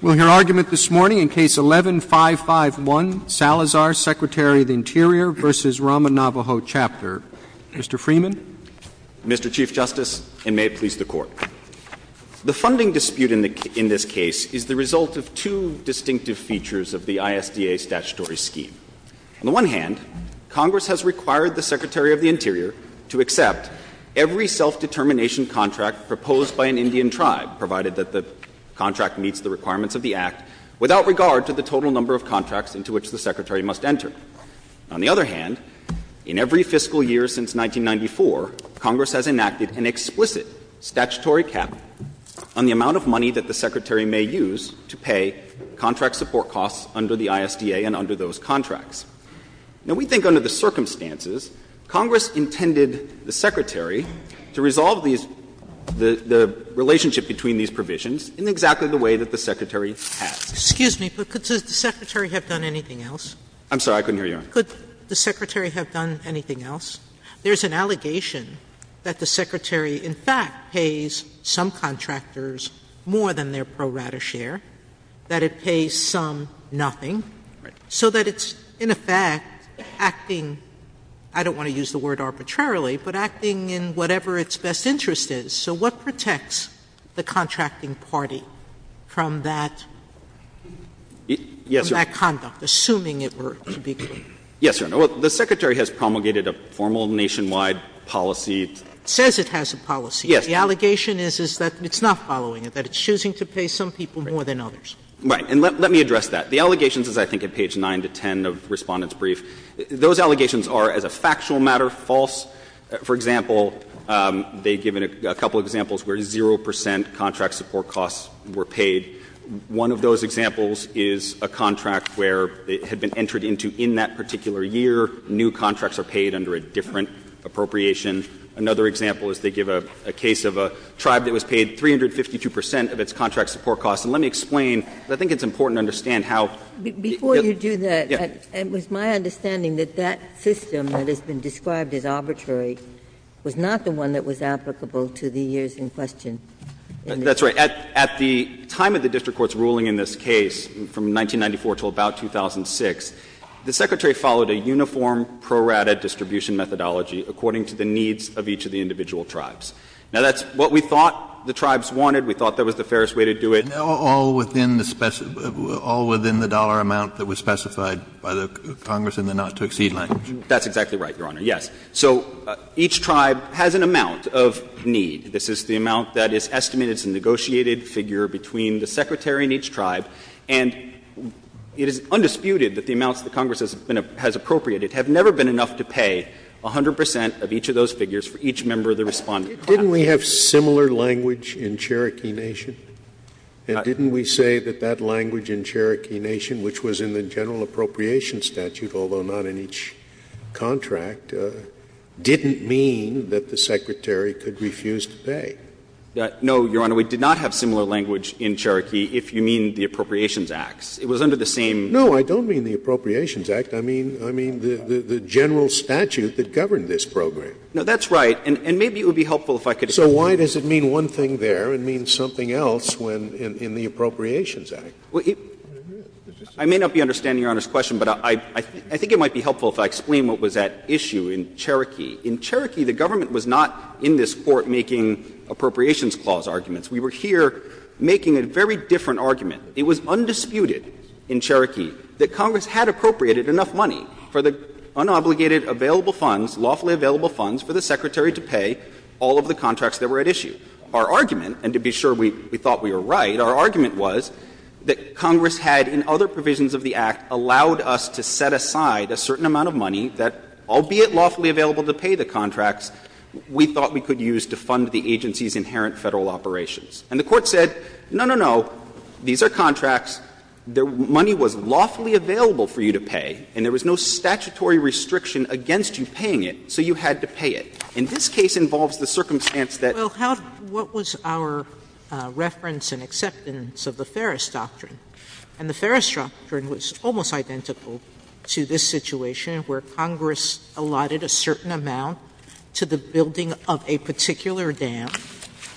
We'll hear argument this morning in Case 11-551, Salazar, Secretary of the Interior v. Ramah Navajo Chapter. Mr. Freeman. Mr. Chief Justice, and may it please the Court. The funding dispute in this case is the result of two distinctive features of the ISDA statutory scheme. On the one hand, Congress has required the Secretary of the Interior to accept every self-determination contract proposed by an Indian tribe, provided that the contract meets the requirements of the Act, without regard to the total number of contracts into which the Secretary must enter. On the other hand, in every fiscal year since 1994, Congress has enacted an explicit statutory cap on the amount of money that the Secretary may use to pay contract support costs under the ISDA and under those contracts. Now, we think under the circumstances, Congress intended the Secretary to resolve these the relationship between these provisions in exactly the way that the Secretary has. Sotomayor Excuse me, but could the Secretary have done anything else? Mr. Freeman I'm sorry, I couldn't hear you. Sotomayor Could the Secretary have done anything else? There's an allegation that the Secretary, in fact, pays some contractors more than their pro rata share, that it pays some nothing, so that it's, in effect, acting I don't want to use the word arbitrarily, but acting in whatever its best interest is. So what protects the contracting party from that conduct, assuming it were to be clear? Mr. Freeman Yes, Your Honor. Well, the Secretary has promulgated a formal nationwide policy. Mr. Freeman Yes. Sotomayor The allegation is that it's not following it, that it's choosing to pay some people more than others. Mr. Freeman Right. And let me address that. The allegations is, I think, at page 9 to 10 of Respondent's brief. Those allegations are, as a factual matter, false. For example, they've given a couple of examples where 0 percent contract support costs were paid. One of those examples is a contract where it had been entered into in that particular year, new contracts are paid under a different appropriation. Another example is they give a case of a tribe that was paid 352 percent of its contract support costs. And let me explain, because I think it's important to understand how Ginsburg Before you do that, it was my understanding that that system that has been described as arbitrary was not the one that was applicable to the years in question. Mr. Freeman That's right. At the time of the district court's ruling in this case, from 1994 to about 2006, the Secretary followed a uniform pro rata distribution methodology according to the needs of each of the individual tribes. Now, that's what we thought the tribes wanted. We thought that was the fairest way to do it. Kennedy All within the dollar amount that was specified by the Congress in the not-to-exceed language. Mr. Freeman That's exactly right, Your Honor. Yes. So each tribe has an amount of need. This is the amount that is estimated as a negotiated figure between the Secretary and each tribe. And it is undisputed that the amounts that Congress has appropriated have never been enough to pay 100 percent of each of those figures for each member of the Respondent tribe. Scalia Didn't we have similar language in Cherokee Nation? And didn't we say that that language in Cherokee Nation, which was in the general appropriation statute, although not in each contract, didn't mean that the Secretary could refuse to pay? Mr. Freeman No, Your Honor. We did not have similar language in Cherokee if you mean the Appropriations Act. It was under the same. Scalia No, I don't mean the Appropriations Act. I mean the general statute that governed this program. Mr. Freeman No, that's right. And maybe it would be helpful if I could explain. Scalia So why does it mean one thing there and mean something else in the Appropriations Act? Mr. Freeman I may not be understanding Your Honor's question, but I think it might be helpful if I explain what was at issue in Cherokee. In Cherokee, the government was not in this Court making appropriations clause arguments. We were here making a very different argument. It was undisputed in Cherokee that Congress had appropriated enough money for the unobligated available funds, lawfully available funds for the Secretary to pay all of the contracts that were at issue. Our argument, and to be sure we thought we were right, our argument was that Congress had in other provisions of the Act allowed us to set aside a certain amount of money that, albeit lawfully available to pay the contracts, we thought we could use to fund the agency's inherent Federal operations. And the Court said, no, no, no, these are contracts, the money was lawfully available for you to pay, and there was no statutory restriction against you paying it, so you had to pay it. And this case involves the circumstance that Sotomayor Well, how do you – what was our reference and acceptance of the Ferris Doctrine? And the Ferris Doctrine was almost identical to this situation where Congress allotted a certain amount to the building of a particular dam.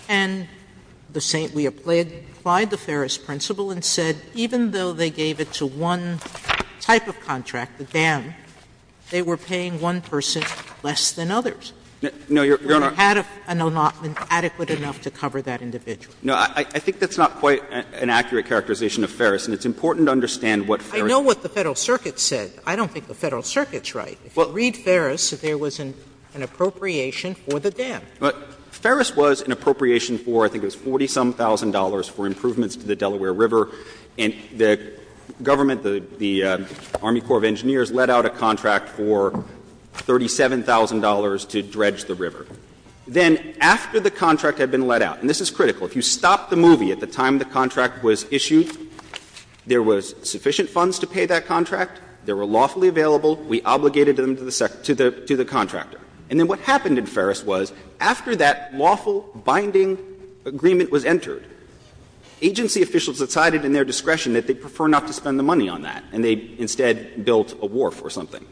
And the St. Louis applied the Ferris principle and said even though they gave it to one type of contract, the dam, they were paying one person less than others. No, Your Honor. And they had an allotment adequate enough to cover that individual. No, I think that's not quite an accurate characterization of Ferris, and it's important to understand what Ferris said. I know what the Federal Circuit said. I don't think the Federal Circuit's right. If you read Ferris, there was an appropriation for the dam. But Ferris was an appropriation for, I think it was $40-some-thousand for improvements to the Delaware River. And the government, the Army Corps of Engineers, let out a contract for $37,000 to dredge the river. Then after the contract had been let out, and this is critical, if you stop the movie at the time the contract was issued, there was sufficient funds to pay that contract, they were lawfully available, we obligated them to the contractor. And then what happened in Ferris was, after that lawful binding agreement was entered, agency officials decided in their discretion that they'd prefer not to spend the money on that, and they instead built a wharf or something.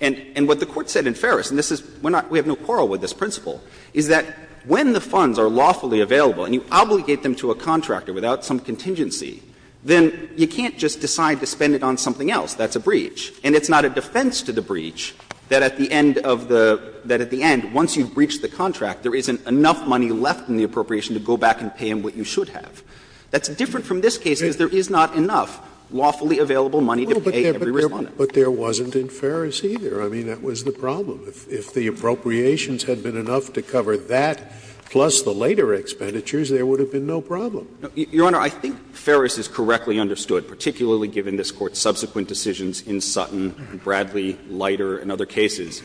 And what the Court said in Ferris, and this is, we have no quarrel with this principle, is that when the funds are lawfully available and you obligate them to a contractor without some contingency, then you can't just decide to spend it on something else. That's a breach. And it's not a defense to the breach that at the end of the, that at the end, once you've breached the contract, there isn't enough money left in the appropriation to go back and pay them what you should have. That's different from this case, because there is not enough lawfully available money to pay every Respondent. Scalia But there wasn't in Ferris, either. I mean, that was the problem. If the appropriations had been enough to cover that plus the later expenditures, there would have been no problem. Shanmugamer Your Honor, I think Ferris is correctly understood, particularly given this Court's subsequent decisions in Sutton, Bradley, Leiter, and other cases.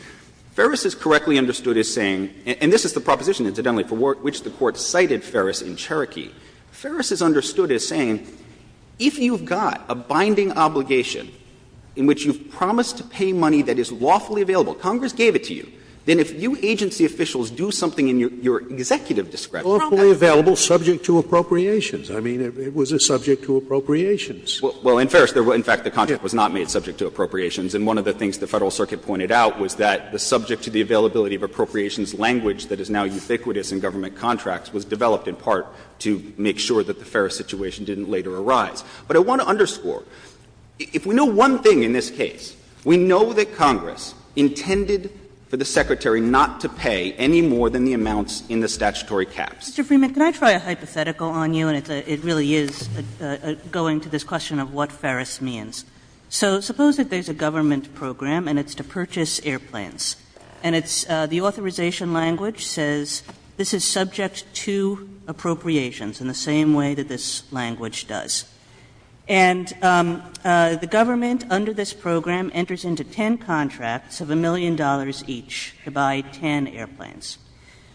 Ferris is correctly understood as saying, and this is the proposition, incidentally, for which the Court cited Ferris in Cherokee. Ferris is understood as saying, if you've got a binding obligation in which you've promised to pay money that is lawfully available, Congress gave it to you, then if you agency officials do something in your executive discretion about that, then I mean, it was a subject to appropriations. Shanmugamer Well, in Ferris, in fact, the contract was not made subject to appropriations. And one of the things the Federal Circuit pointed out was that the subject to the availability of appropriations language that is now ubiquitous in government contracts was developed in part to make sure that the Ferris situation didn't later arise. But I want to underscore, if we know one thing in this case, we know that Congress intended for the Secretary not to pay any more than the amounts in the statutory caps. Kagan Mr. Freeman, can I try a hypothetical on you? And it really is going to this question of what Ferris means. So suppose that there's a government program and it's to purchase airplanes. And it's the authorization language says this is subject to appropriations in the same way that this language does. And the government under this program enters into ten contracts of a million dollars each to buy ten airplanes.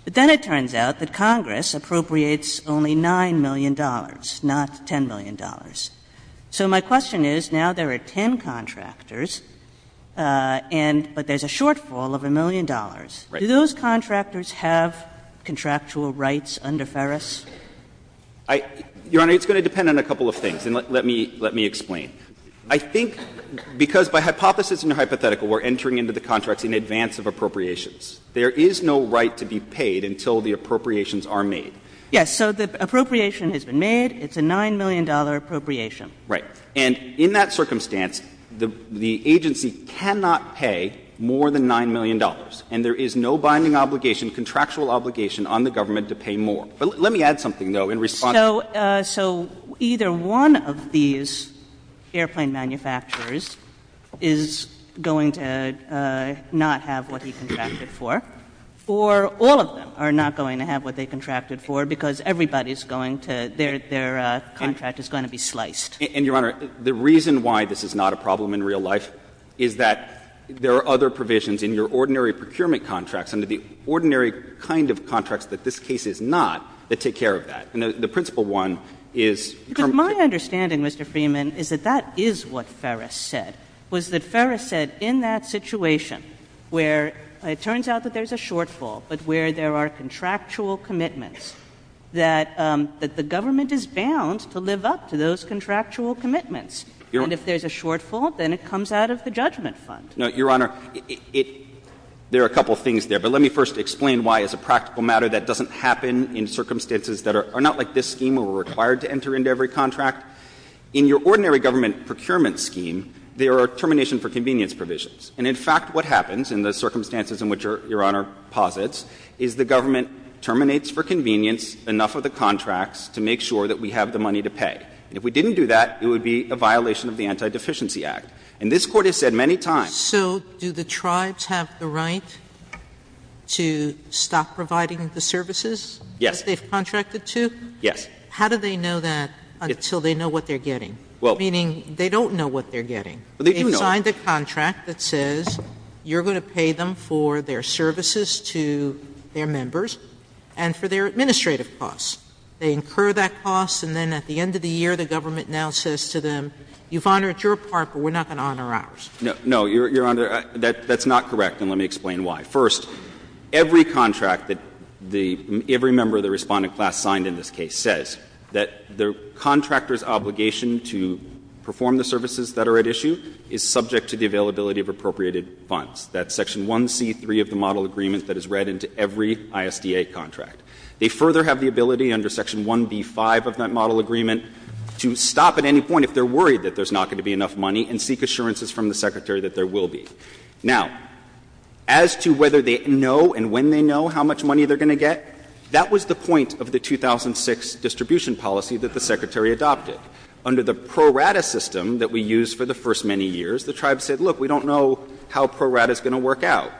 But then it turns out that Congress appropriates only $9 million, not $10 million. So my question is, now there are ten contractors, and but there's a shortfall of a million dollars. Do those contractors have contractual rights under Ferris? Shanmugamer Your Honor, it's going to depend on a couple of things. And let me explain. I think because by hypothesis in a hypothetical, we're entering into the contracts in advance of appropriations. There is no right to be paid until the appropriations are made. Kagan Yes. So the appropriation has been made. It's a $9 million appropriation. Shanmugamer Right. And in that circumstance, the agency cannot pay more than $9 million. And there is no binding obligation, contractual obligation on the government to pay more. But let me add something, though, in response. Kagan So either one of these airplane manufacturers is going to not have what he contracted for, or all of them are not going to have what they contracted for because everybody is going to — their contract is going to be sliced. Shanmugamer And, Your Honor, the reason why this is not a problem in real life is that there are other provisions in your ordinary procurement contracts, under the ordinary kind of contracts that this case is not, that take care of that. And the principal one is — Kagan Because my understanding, Mr. Freeman, is that that is what Ferris said, was that there's a shortfall, but where there are contractual commitments, that the government is bound to live up to those contractual commitments. And if there's a shortfall, then it comes out of the judgment fund. Shanmugamer No, Your Honor, it — there are a couple of things there. But let me first explain why, as a practical matter, that doesn't happen in circumstances that are not like this scheme where we're required to enter into every contract. In your ordinary government procurement scheme, there are termination for convenience provisions. And in fact, what happens in the circumstances in which Your Honor posits is the government terminates for convenience enough of the contracts to make sure that we have the money to pay. And if we didn't do that, it would be a violation of the Anti-Deficiency Act. And this Court has said many times — Sotomayor So do the tribes have the right to stop providing the services? Shanmugamer Yes. Sotomayor That they've contracted to? Shanmugamer Yes. Sotomayor How do they know that until they know what they're getting? Shanmugamer Well — Sotomayor Meaning, they don't know what they're getting. Shanmugamer Well, they do know — Sotomayor Well, there's a contract that says you're going to pay them for their services to their members and for their administrative costs. They incur that cost, and then at the end of the year, the government now says to them, you've honored your part, but we're not going to honor ours. Shanmugamer No, Your Honor, that's not correct, and let me explain why. First, every contract that the — every member of the Respondent class signed in this case says that the contractor's obligation to perform the services that are at issue is subject to the availability of appropriated funds. That's section 1C.3 of the model agreement that is read into every ISDA contract. They further have the ability under section 1B.5 of that model agreement to stop at any point if they're worried that there's not going to be enough money and seek assurances from the Secretary that there will be. Now, as to whether they know and when they know how much money they're going to get, that was the point of the 2006 distribution policy that the Secretary adopted. Under the pro rata system that we used for the first many years, the tribes said, look, we don't know how pro rata is going to work out.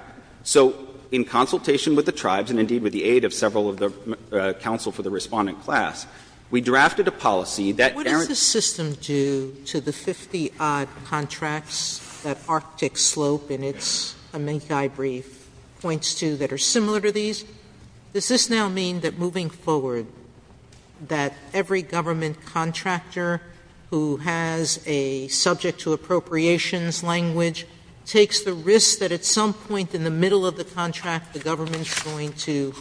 So in consultation with the tribes, and indeed with the aid of several of the counsel for the Respondent class, we drafted a policy that — Sotomayor What does the system do to the 50-odd contracts that Arctic Slope in its amici brief points to that are similar to these? Does this now mean that moving forward, that every government contractor who has a subject to appropriations language takes the risk that at some point in the middle of the contract the government is going to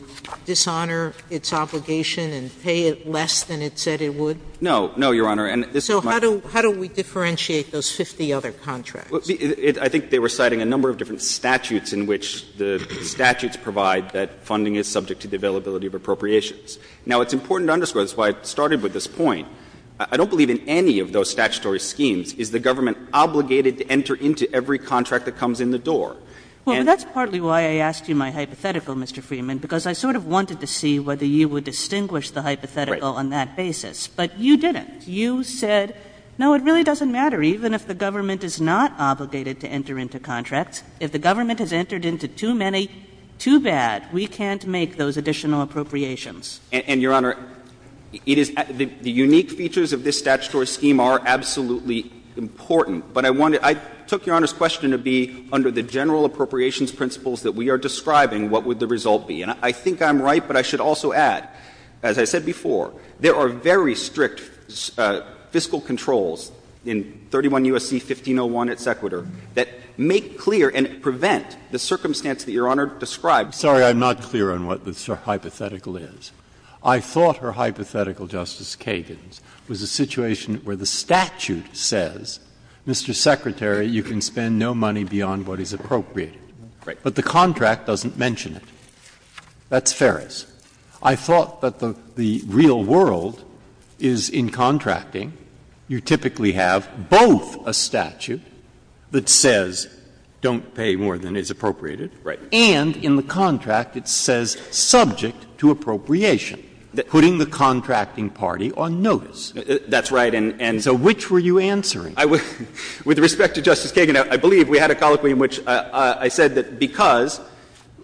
dishonor its obligation and pay it less than it said it would? No. No, Your Honor. And this is my question. So how do we differentiate those 50 other contracts? I think they were citing a number of different statutes in which the statutes provide that funding is subject to the availability of appropriations. Now, it's important to underscore, that's why I started with this point, I don't believe in any of those statutory schemes. Is the government obligated to enter into every contract that comes in the door? And — Kagan Well, that's partly why I asked you my hypothetical, Mr. Freeman, because I sort of wanted to see whether you would distinguish the hypothetical on that basis. But you didn't. You said, no, it really doesn't matter even if the government is not obligated to enter into contracts. If the government has entered into too many, too bad. We can't make those additional appropriations. And, Your Honor, it is — the unique features of this statutory scheme are absolutely important. But I wanted — I took Your Honor's question to be under the general appropriations principles that we are describing, what would the result be. And I think I'm right, but I should also add, as I said before, there are very strict fiscal controls in 31 U.S.C. 1501, et cetera, that make clear and prevent the circumstance that Your Honor described. Breyer. Sorry, I'm not clear on what the hypothetical is. I thought her hypothetical, Justice Kagan's, was a situation where the statute says, Mr. Secretary, you can spend no money beyond what is appropriate. But the contract doesn't mention it. That's Ferris. I thought that the real world is in contracting. You typically have both a statute that says don't pay more than is appropriated. Right. And in the contract it says subject to appropriation, putting the contracting party on notice. That's right. And so which were you answering? With respect to Justice Kagan, I believe we had a colloquy in which I said that because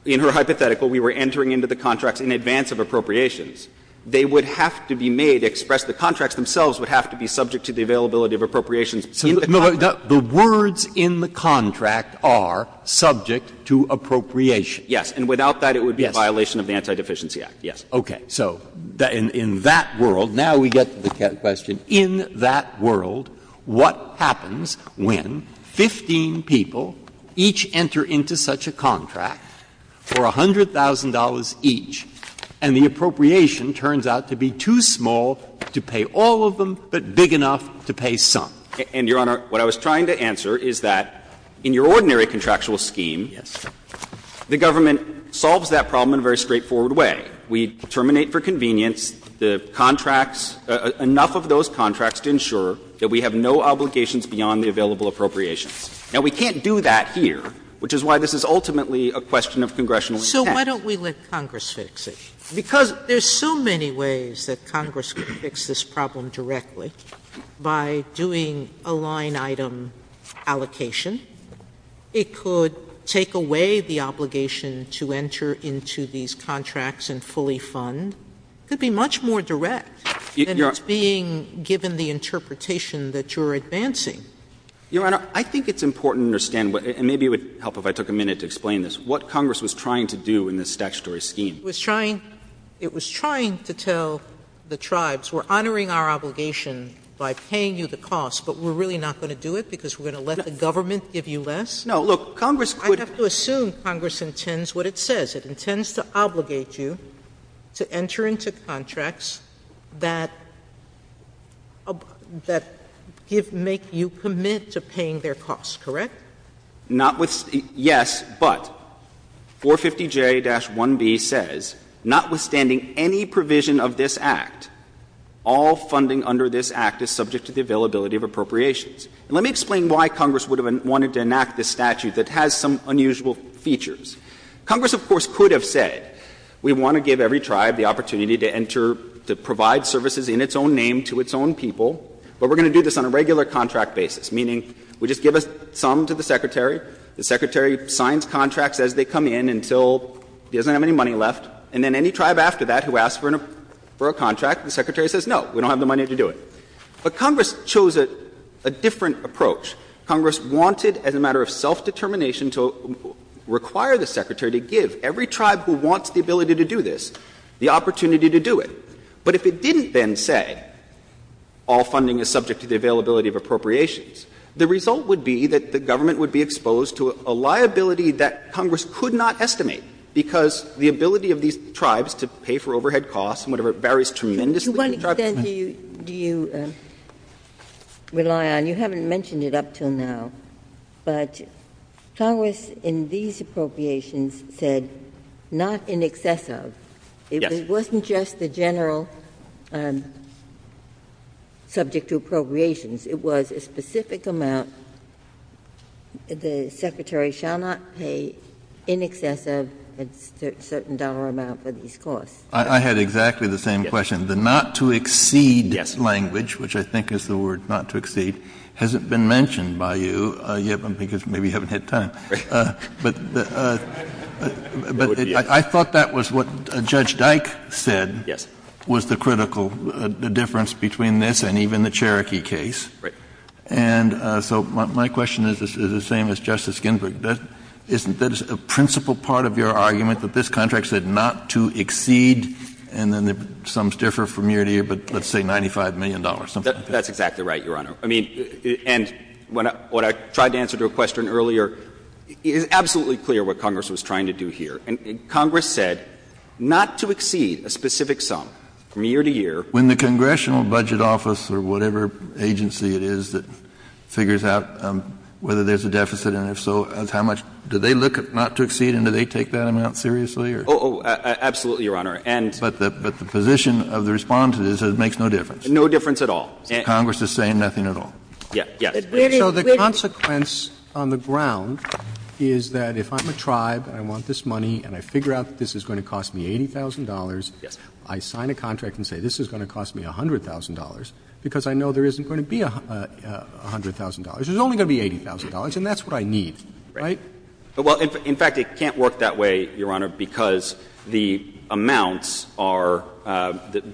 in her hypothetical we were entering into the contracts in advance of appropriations, they would have to be made to express the contracts themselves would have to be subject to the availability of appropriations in the contract. So the words in the contract are subject to appropriation. Yes. And without that, it would be a violation of the Anti-Deficiency Act. Yes. Okay. So in that world, now we get to the question, in that world, what happens when 15 people each enter into such a contract for $100,000 each and the appropriation turns out to be too small to pay all of them, but big enough to pay some? And, Your Honor, what I was trying to answer is that in your ordinary contractual scheme, the government solves that problem in a very straightforward way. We terminate for convenience the contracts, enough of those contracts to ensure that we have no obligations beyond the available appropriations. Now, we can't do that here, which is why this is ultimately a question of congressional intent. So why don't we let Congress fix it? Because there's so many ways that Congress could fix this problem directly. By doing a line-item allocation, it could take away the obligation to enter into these contracts and fully fund. It could be much more direct than it's being given the interpretation that you're advancing. Your Honor, I think it's important to understand, and maybe it would help if I took a minute to explain this, what Congress was trying to do in this statutory scheme. It was trying to tell the tribes, we're honoring our obligation by paying you the cost, but we're really not going to do it because we're going to let the government give you less? No, look, Congress could I have to assume Congress intends what it says. It intends to obligate you to enter into contracts that make you commit to paying their costs, correct? Yes, but 450J-1B says, notwithstanding any provision of this Act, all funding under this Act is subject to the availability of appropriations. And let me explain why Congress would have wanted to enact this statute that has some unusual features. Congress, of course, could have said, we want to give every tribe the opportunity to enter, to provide services in its own name to its own people, but we're going to do this on a regular contract basis, meaning we just give some to the Secretary, the Secretary signs contracts as they come in until he doesn't have any money left, and then any tribe after that who asks for a contract, the Secretary says, no, we don't have the money to do it. But Congress chose a different approach. Congress wanted, as a matter of self-determination, to require the Secretary to give every tribe who wants the ability to do this the opportunity to do it. But if it didn't then say, all funding is subject to the availability of appropriations, the result would be that the government would be exposed to a liability that Congress could not estimate, because the ability of these tribes to pay for overhead costs and whatever, varies tremendously. Ginsburg. To what extent do you rely on? You haven't mentioned it up until now, but Congress in these appropriations said, not in excess of. It wasn't just the general subject to appropriations. It was a specific amount the Secretary shall not pay in excess of a certain dollar amount for these costs. I had exactly the same question. The not to exceed language, which I think is the word not to exceed, hasn't been mentioned by you yet, because maybe you haven't had time. But I thought that was what Judge Dyke said was the critical difference between this and even the Cherokee case. And so my question is the same as Justice Ginsburg. That is a principal part of your argument that this contract said not to exceed and then the sums differ from year to year, but let's say $95 million. That's exactly right, Your Honor. I mean, and what I tried to answer to a question earlier, it is absolutely clear what Congress was trying to do here. Congress said not to exceed a specific sum from year to year. When the Congressional Budget Office or whatever agency it is that figures out whether there's a deficit and if so, how much, do they look at not to exceed and do they take that amount seriously? Oh, absolutely, Your Honor. But the position of the Respondent is that it makes no difference. No difference at all. Congress is saying nothing at all. Yes. So the consequence on the ground is that if I'm a tribe and I want this money and I figure out that this is going to cost me $80,000, I sign a contract and say this is going to cost me $100,000 because I know there isn't going to be $100,000. There's only going to be $80,000 and that's what I need, right? Well, in fact, it can't work that way, Your Honor, because the amounts are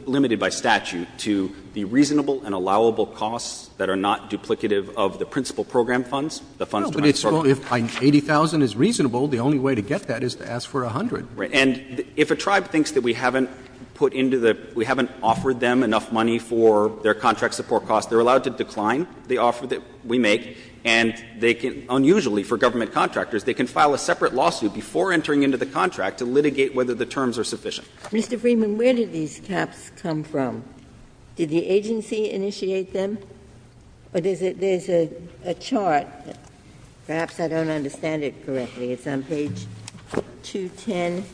limited by statute to the reasonable and allowable costs that are not duplicative of the principal program funds, the funds to fund the program. Well, but if $80,000 is reasonable, the only way to get that is to ask for $100,000. Right. And if a tribe thinks that we haven't put into the — we haven't offered them enough money for their contract support costs, they're allowed to decline the offer that we Mr. Freeman, where did these caps come from? Did the agency initiate them? There's a chart, perhaps I don't understand it correctly. It's on page 210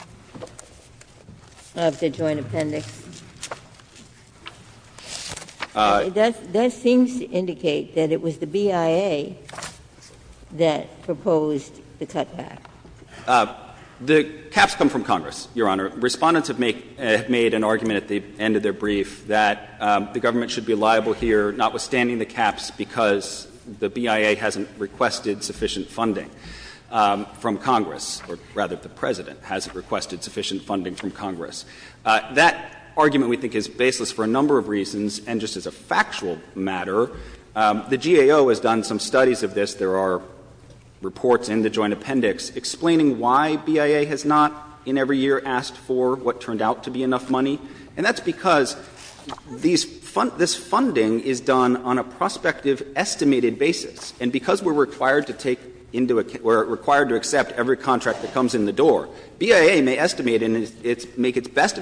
of the Joint Appendix. That seems to indicate that it was the BIA that proposed the cutback. The caps come from Congress, Your Honor. Respondents have made an argument at the end of their brief that the government should be liable here, notwithstanding the caps, because the BIA hasn't requested sufficient funding from Congress, or rather the President hasn't requested sufficient funding from Congress. That argument, we think, is baseless for a number of reasons. And just as a factual matter, the GAO has done some studies of this. There are reports in the Joint Appendix explaining why BIA has not in every year asked for what turned out to be enough money. And that's because these — this funding is done on a prospective estimated basis, and because we're required to take into — we're required to accept every best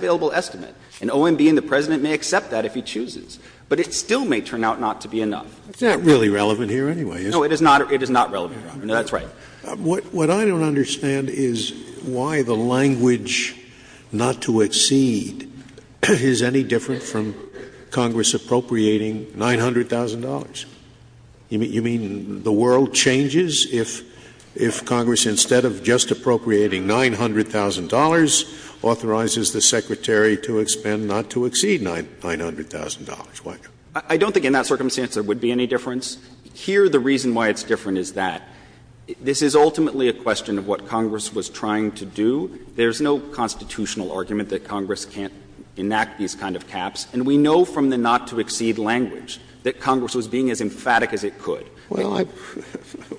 available estimate. And OMB and the President may accept that if he chooses. But it still may turn out not to be enough. It's not really relevant here anyway, is it? No, it is not. It is not relevant, Your Honor. No, that's right. What I don't understand is why the language, not to exceed, is any different from Congress appropriating $900,000. You mean the world changes if Congress, instead of just appropriating $900,000, authorizes the Secretary to expend not to exceed $900,000? I don't think in that circumstance there would be any difference. Here, the reason why it's different is that this is ultimately a question of what Congress was trying to do. There's no constitutional argument that Congress can't enact these kind of caps. And we know from the not to exceed language that Congress was being as emphatic as it could. Well, I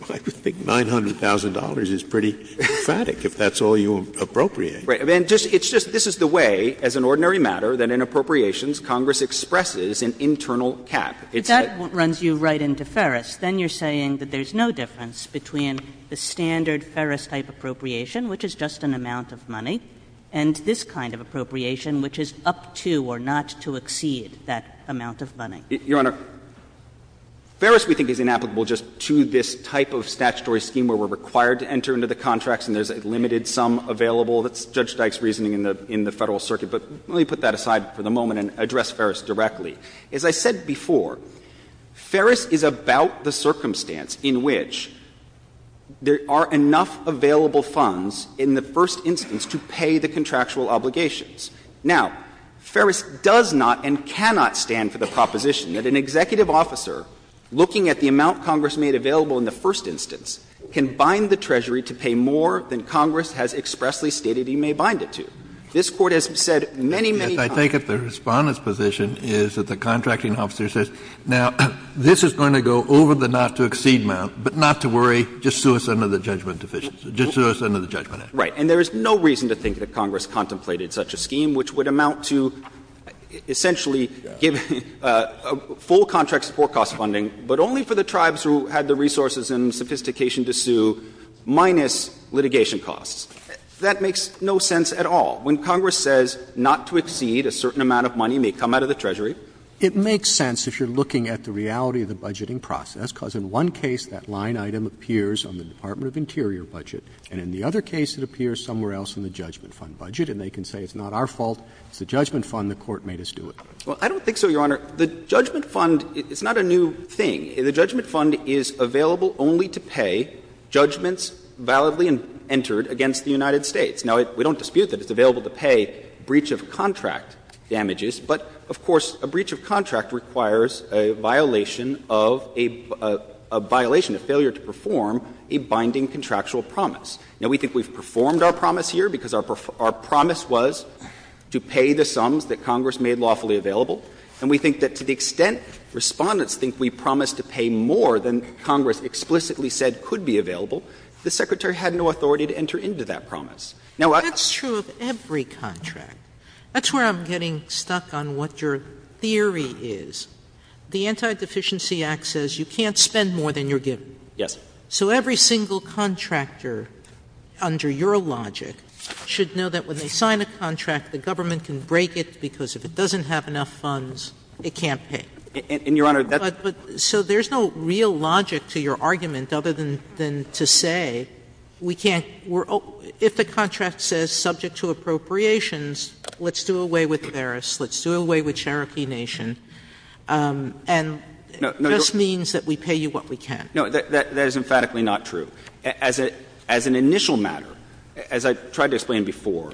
would think $900,000 is pretty emphatic, if that's all you appropriate. Right. And it's just this is the way, as an ordinary matter, that in appropriations Congress expresses an internal cap. If that runs you right into Ferris, then you're saying that there's no difference between the standard Ferris-type appropriation, which is just an amount of money, and this kind of appropriation, which is up to or not to exceed that amount of money. Your Honor, Ferris we think is inapplicable just to this type of statutory scheme where we're required to enter into the contracts and there's a limited sum available. That's Judge Dyke's reasoning in the Federal Circuit. But let me put that aside for the moment and address Ferris directly. As I said before, Ferris is about the circumstance in which there are enough available funds in the first instance to pay the contractual obligations. Now, Ferris does not and cannot stand for the proposition that an executive officer, looking at the amount Congress made available in the first instance, can bind the Treasury to pay more than Congress has expressly stated he may bind it to. This Court has said many, many times. Kennedy, I think at the Respondent's position is that the contracting officer says, now, this is going to go over the not to exceed amount, but not to worry, just sue us under the judgment deficiency, just sue us under the judgment act. Right. And there is no reason to think that Congress contemplated such a scheme which would amount to essentially give full contract support cost funding, but only for the tribes who had the resources and sophistication to sue, minus litigation costs. That makes no sense at all. When Congress says not to exceed a certain amount of money may come out of the Treasury. It makes sense if you're looking at the reality of the budgeting process, because in one case that line item appears on the Department of Interior budget, and in the other case it appears somewhere else in the Judgment Fund budget, and they can say it's not our fault, it's the Judgment Fund, the Court made us do it. Well, I don't think so, Your Honor. The Judgment Fund, it's not a new thing. The Judgment Fund is available only to pay judgments validly entered against the United States. Now, we don't dispute that it's available to pay breach of contract damages, but of course a breach of contract requires a violation of a violation, a failure to perform a binding contractual promise. Now, we think we've performed our promise here because our promise was to pay the sums that Congress made lawfully available, and we think that to the extent Respondents think we promised to pay more than Congress explicitly said could be available, the Secretary had no authority to enter into that promise. Now, I don't think that's true of every contract. That's where I'm getting stuck on what your theory is. The Anti-Deficiency Act says you can't spend more than you're given. Yes. So every single contractor, under your logic, should know that when they sign a contract, the government can break it because if it doesn't have enough funds, it can't pay. And, Your Honor, that's Sotomayor, so there's no real logic to your argument other than to say we can't we're oh, if the contract says subject to appropriations, let's do away with Paris, let's do away with Cherokee Nation, and it just means that we pay you what we can. No. That is emphatically not true. As an initial matter, as I tried to explain before,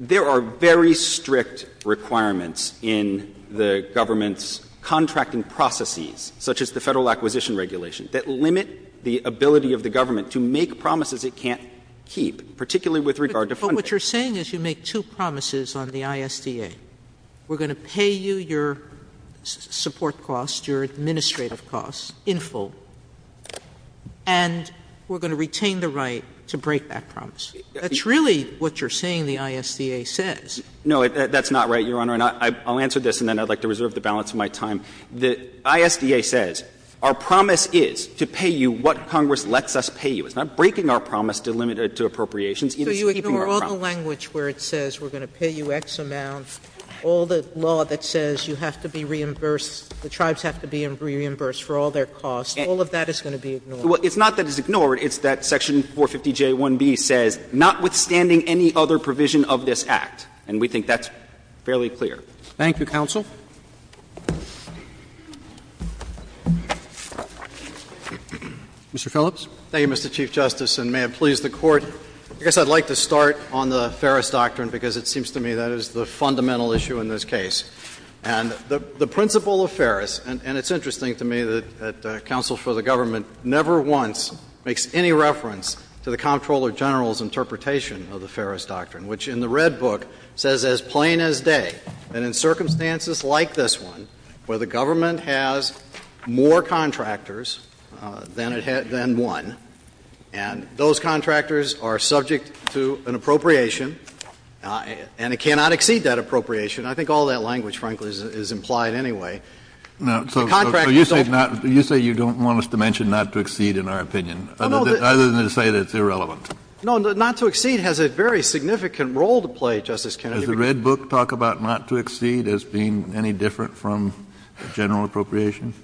there are very strict requirements in the government's contracting processes, such as the Federal Acquisition Regulation, that limit the ability of the government to make promises it can't keep, particularly with regard to funding. But what you're saying is you make two promises on the ISDA. We're going to pay you your support costs, your administrative costs in full, and we're going to retain the right to break that promise. That's really what you're saying the ISDA says. No, that's not right, Your Honor. And I'll answer this, and then I'd like to reserve the balance of my time. The ISDA says our promise is to pay you what Congress lets us pay you. It's not breaking our promise to limit it to appropriations. It's keeping our promise. Sotomayor, so you ignore all the language where it says we're going to pay you X amount, all the law that says you have to be reimbursed, the tribes have to be reimbursed for all their costs. All of that is going to be ignored. Well, it's not that it's ignored. It's that Section 450J1B says notwithstanding any other provision of this Act, and we think that's fairly clear. Thank you, counsel. Mr. Phillips. Thank you, Mr. Chief Justice, and may it please the Court. I guess I'd like to start on the Ferris Doctrine because it seems to me that is the fundamental issue in this case. And the principle of Ferris, and it's interesting to me that counsel for the government never once makes any reference to the Comptroller General's interpretation of the Ferris Doctrine, which in the Red Book says as plain as day, that in circumstances like this one, where the government has more contractors than it had been won, and those contractors are subject to an appropriation, and it cannot exceed that appropriation, I think all that language, frankly, is implied anyway. The contractors don't want to be appropriated. Kennedy, you say you don't want us to mention not to exceed in our opinion, other than to say that it's irrelevant. No, not to exceed has a very significant role to play, Justice Kennedy. Does the Red Book talk about not to exceed as being any different from general appropriation?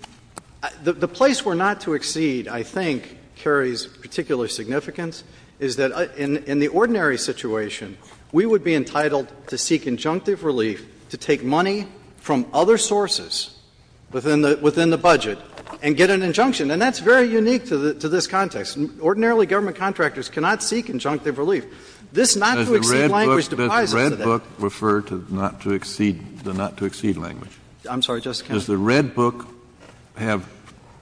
The place where not to exceed, I think, carries particular significance, is that in the ordinary situation, we would be entitled to seek injunctive relief to take money from other sources within the budget and get an injunction. And that's very unique to this context. Ordinarily, government contractors cannot seek injunctive relief. This not to exceed language deprives us of that. Does the Red Book refer to not to exceed the not to exceed language? I'm sorry, Justice Kennedy. Does the Red Book have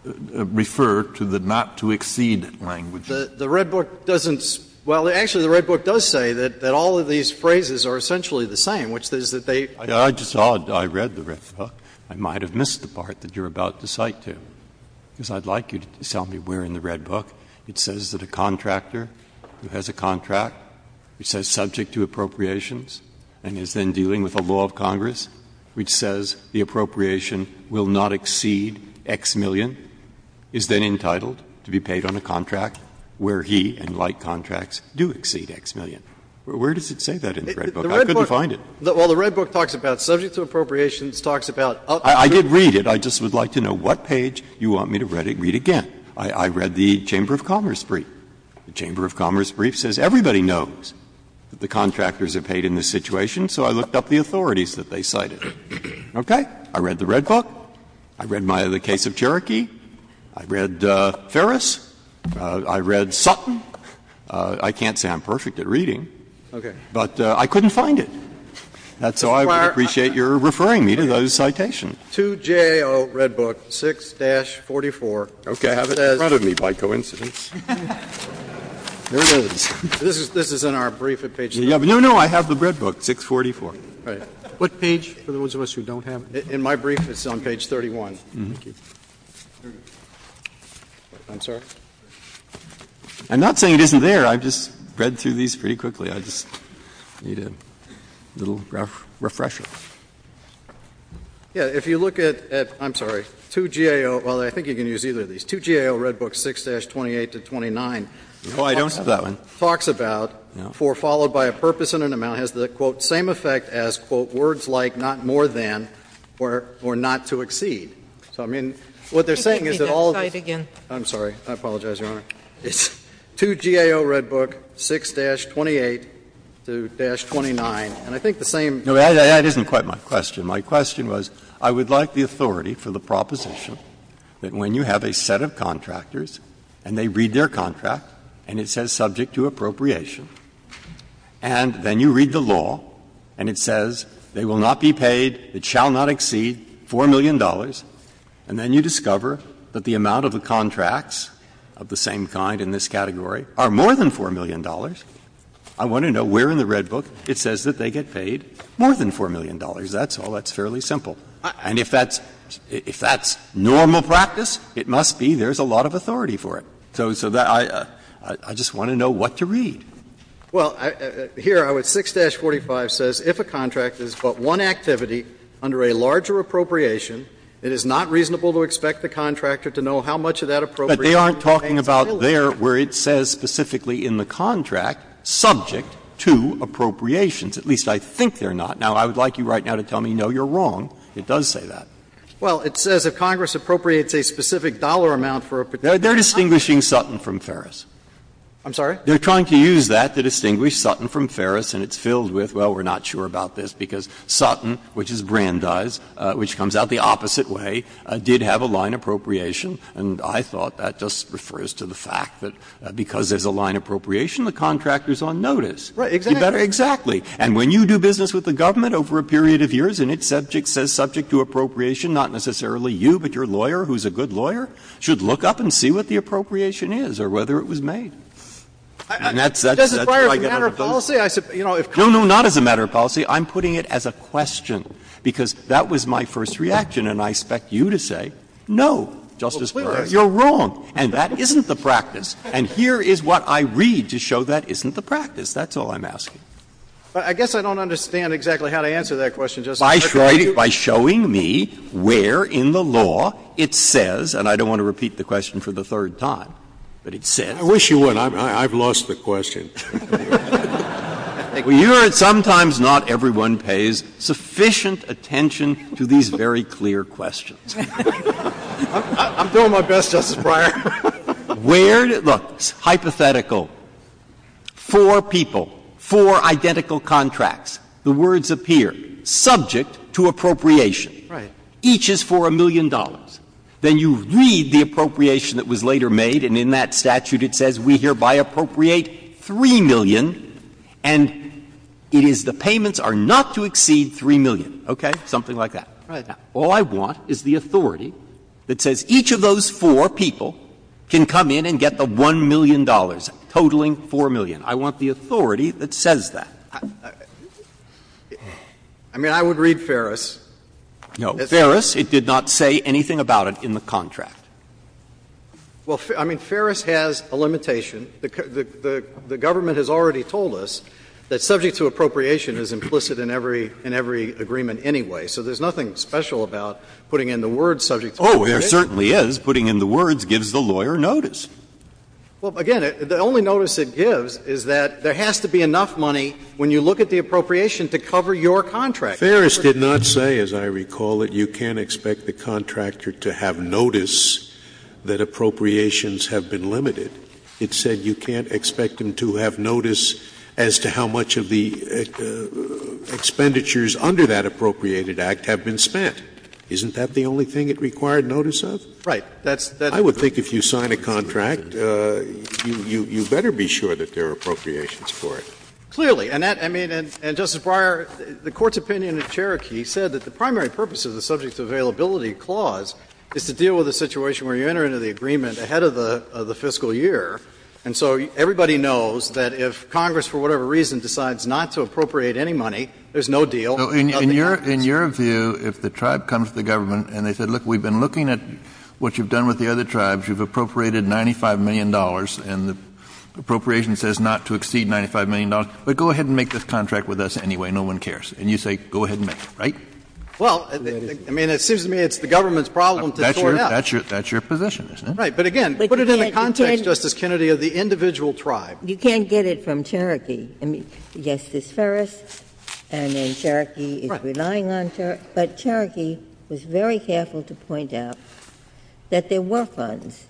to refer to the not to exceed language? The Red Book doesn't. Well, actually, the Red Book does say that all of these phrases are essentially the same, which is that they. I just thought I read the Red Book. I might have missed the part that you're about to cite to, because I'd like you to tell me where in the Red Book it says that a contractor who has a contract, which says subject to appropriations, and is then dealing with the law of Congress, which says the appropriation will not exceed X million, is then entitled to be paid on a contract where he and like contracts do exceed X million. Where does it say that in the Red Book? I couldn't find it. Well, the Red Book talks about subject to appropriations, talks about up to. I did read it. I just would like to know what page you want me to read again. I read the Chamber of Commerce brief. The Chamber of Commerce brief says everybody knows that the contractors are paid in this situation, so I looked up the authorities that they cited. Okay? I read the Red Book. I read my other case of Cherokee. I read Ferris. I read Sutton. I can't say I'm perfect at reading. But I couldn't find it. That's why I appreciate your referring me to those citations. 2JAO Red Book, 6-44. Okay. I have it in front of me, by coincidence. There it is. This is in our brief at page 31. No, no. I have the Red Book, 6-44. What page for those of us who don't have it? In my brief, it's on page 31. Thank you. I'm sorry? I'm not saying it isn't there. I just read through these pretty quickly. I just need a little refresher. Yeah, if you look at, I'm sorry, 2GAO, well, I think you can use either of these. 2GAO Red Book, 6-28 to 29. Oh, I don't have that one. Talks about, for followed by a purpose and an amount, has the, quote, same effect as, quote, words like not more than or not to exceed. So, I mean, what they're saying is that all of this. I'm sorry. I apologize, Your Honor. It's 2GAO Red Book, 6-28 to 29. And I think the same. No, that isn't quite my question. My question was, I would like the authority for the proposition that when you have a set of contractors, and they read their contract, and it says subject to appropriation, and then you read the law, and it says they will not be paid, it shall not exceed $4 million, and then you discover that the amount of the contracts of the same kind in this category are more than $4 million, I want to know where in the Red Book it says that they get paid more than $4 million. That's all. That's fairly simple. And if that's normal practice, it must be there's a lot of authority for it. So I just want to know what to read. Well, here, 6-45 says if a contract is but one activity under a larger appropriation, it is not reasonable to expect the contractor to know how much of that appropriation remains valid. But they aren't talking about there where it says specifically in the contract subject to appropriations, at least I think they're not. Now, I would like you right now to tell me, no, you're wrong, it does say that. Well, it says if Congress appropriates a specific dollar amount for a particular contract. They're distinguishing Sutton from Ferris. I'm sorry? They're trying to use that to distinguish Sutton from Ferris, and it's filled with, well, we're not sure about this, because Sutton, which is Brandeis, which comes out the opposite way, did have a line appropriation, and I thought that just refers to the fact that because there's a line appropriation, the contractor is on notice. Exactly. And when you do business with the government over a period of years and its subject says subject to appropriation, not necessarily you, but your lawyer, who's a good lawyer, should look up and see what the appropriation is or whether it was made. And that's what I get out of those. No, no, not as a matter of policy. I'm putting it as a question, because that was my first reaction, and I expect you to say, no, Justice Breyer, you're wrong, and that isn't the practice. And here is what I read to show that isn't the practice. That's all I'm asking. But I guess I don't understand exactly how to answer that question, Justice Breyer. By showing me where in the law it says, and I don't want to repeat the question for the third time, but it says. I wish you would. I've lost the question. Well, you heard sometimes not everyone pays sufficient attention to these very clear questions. I'm doing my best, Justice Breyer. Where does the hypothetical four people, four identical contracts, the words appear, subject to appropriation. Right. Each is for a million dollars. Then you read the appropriation that was later made, and in that statute it says, we hereby appropriate 3 million, and it is the payments are not to exceed 3 million. Okay? Something like that. Right. All I want is the authority that says each of those four people can come in and get the 1 million dollars, totaling 4 million. I want the authority that says that. I mean, I would read Ferris. No. Ferris, it did not say anything about it in the contract. Well, I mean, Ferris has a limitation. The government has already told us that subject to appropriation is implicit in every agreement anyway. So there's nothing special about putting in the words subject to appropriation. Oh, there certainly is. Putting in the words gives the lawyer notice. Well, again, the only notice it gives is that there has to be enough money when you look at the appropriation to cover your contract. Ferris did not say, as I recall it, you can't expect the contractor to have notice that appropriations have been limited. It said you can't expect him to have notice as to how much of the expenditures under that appropriated act have been spent. Isn't that the only thing it required notice of? Right. That's the only thing it's limited. I would think if you sign a contract, you better be sure that there are appropriations for it. Clearly. And that, I mean, and, Justice Breyer, the Court's opinion in Cherokee said that the primary purpose of the subject to availability clause is to deal with a situation where you enter into the agreement ahead of the fiscal year, and so everybody knows that if Congress, for whatever reason, decides not to appropriate any money, there's no deal. So in your view, if the tribe comes to the government and they said, look, we've been looking at what you've done with the other tribes, you've appropriated $95 million, and the appropriation says not to exceed $95 million, but go ahead and make this contract with us anyway, no one cares, and you say go ahead and make it, right? Well, I mean, it seems to me it's the government's problem to sort it out. That's your position, isn't it? Right. But again, put it in the context, Justice Kennedy, of the individual tribe. You can't get it from Cherokee. I mean, yes, there's Ferris, and then Cherokee is relying on Cherokee. But Cherokee was very careful to point out that there were funds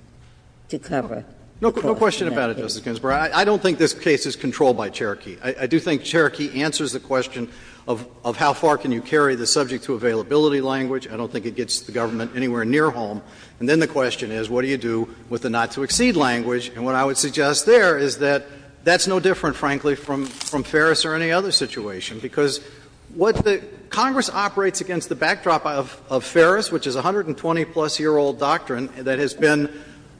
to cover the clause. No question about it, Justice Ginsburg. I don't think this case is controlled by Cherokee. I do think Cherokee answers the question of how far can you carry the subject to availability language. I don't think it gets the government anywhere near home. And then the question is, what do you do with the not to exceed language? And what I would suggest there is that that's no different, frankly, from Ferris or any other situation, because what the — Congress operates against the backdrop of Ferris, which is a 120-plus-year-old doctrine that has been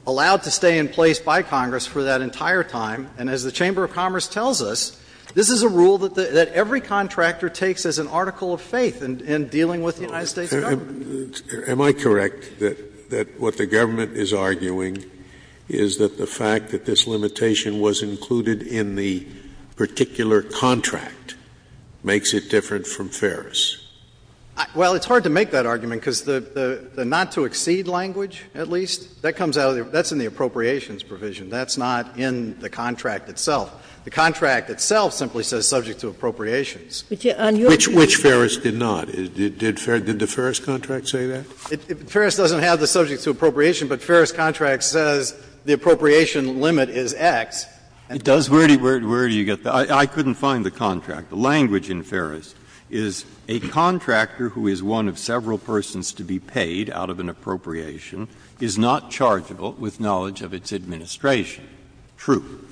allowed to stay in place by Congress for that entire time. And as the Chamber of Commerce tells us, this is a rule that every contractor takes as an article of faith in dealing with the United States government. Scalia. Am I correct that what the government is arguing is that the fact that this limitation was included in the particular contract makes it different from Ferris? Well, it's hard to make that argument, because the not to exceed language, at least, that comes out of the — that's in the appropriations provision. That's not in the contract itself. The contract itself simply says subject to appropriations. Which Ferris did not. Did Ferris — did the Ferris contract say that? Ferris doesn't have the subject to appropriation, but Ferris contract says the appropriation limit is X. And it does say that. Where do you get that? I couldn't find the contract. The language in Ferris is a contractor who is one of several persons to be paid out of an appropriation is not chargeable with knowledge of its administration. True.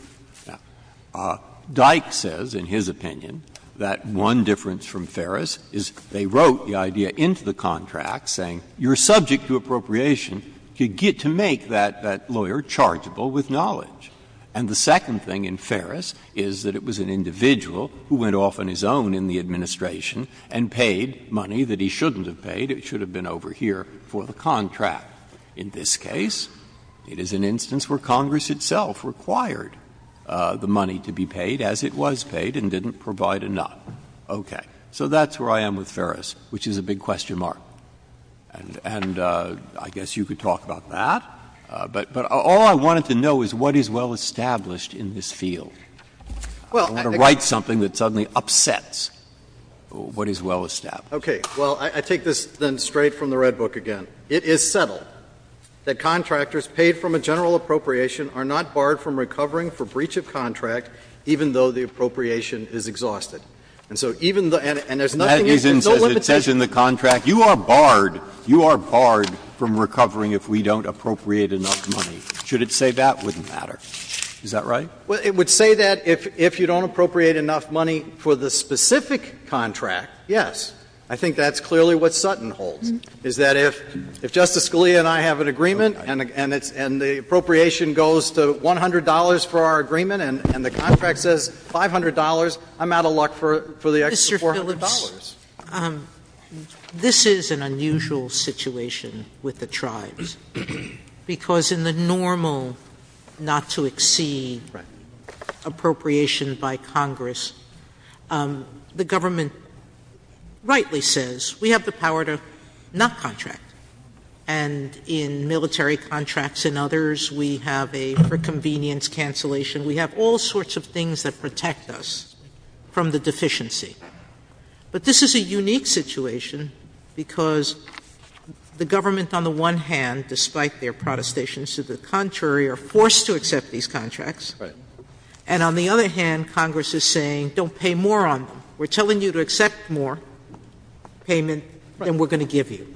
Now, Dyke says, in his opinion, that one difference from Ferris is they wrote the idea into the contract, saying you're subject to appropriation, you get to make that lawyer chargeable with knowledge. And the second thing in Ferris is that it was an individual who went off on his own in the administration and paid money that he shouldn't have paid, it should have been over here for the contract. In this case, it is an instance where Congress itself required the money to be paid as it was paid and didn't provide enough. Okay. So that's where I am with Ferris, which is a big question mark. And I guess you could talk about that. But all I wanted to know is what is well established in this field. I don't want to write something that suddenly upsets what is well established. Okay. Well, I take this then straight from the Red Book again. It is settled that contractors paid from a general appropriation are not barred from recovering for breach of contract even though the appropriation is exhausted. And so even the and there's nothing, there's no limitation. But that isn't, it says in the contract, you are barred, you are barred from recovering if we don't appropriate enough money. Should it say that? Wouldn't matter. Is that right? Well, it would say that if you don't appropriate enough money for the specific contract, yes. I think that's clearly what Sutton holds. Is that if Justice Scalia and I have an agreement and the appropriation goes to $100 for our agreement and the contract says $500, I'm out of luck for the extra $400. Mr. Phillips, this is an unusual situation with the tribes, because in the normal not to exceed appropriation by Congress, the government rightly says, we have the contract, not contract. And in military contracts and others, we have a for convenience cancellation. We have all sorts of things that protect us from the deficiency. But this is a unique situation because the government on the one hand, despite their protestations to the contrary, are forced to accept these contracts. And on the other hand, Congress is saying, don't pay more on them. We're telling you to accept more payment than we're going to give you.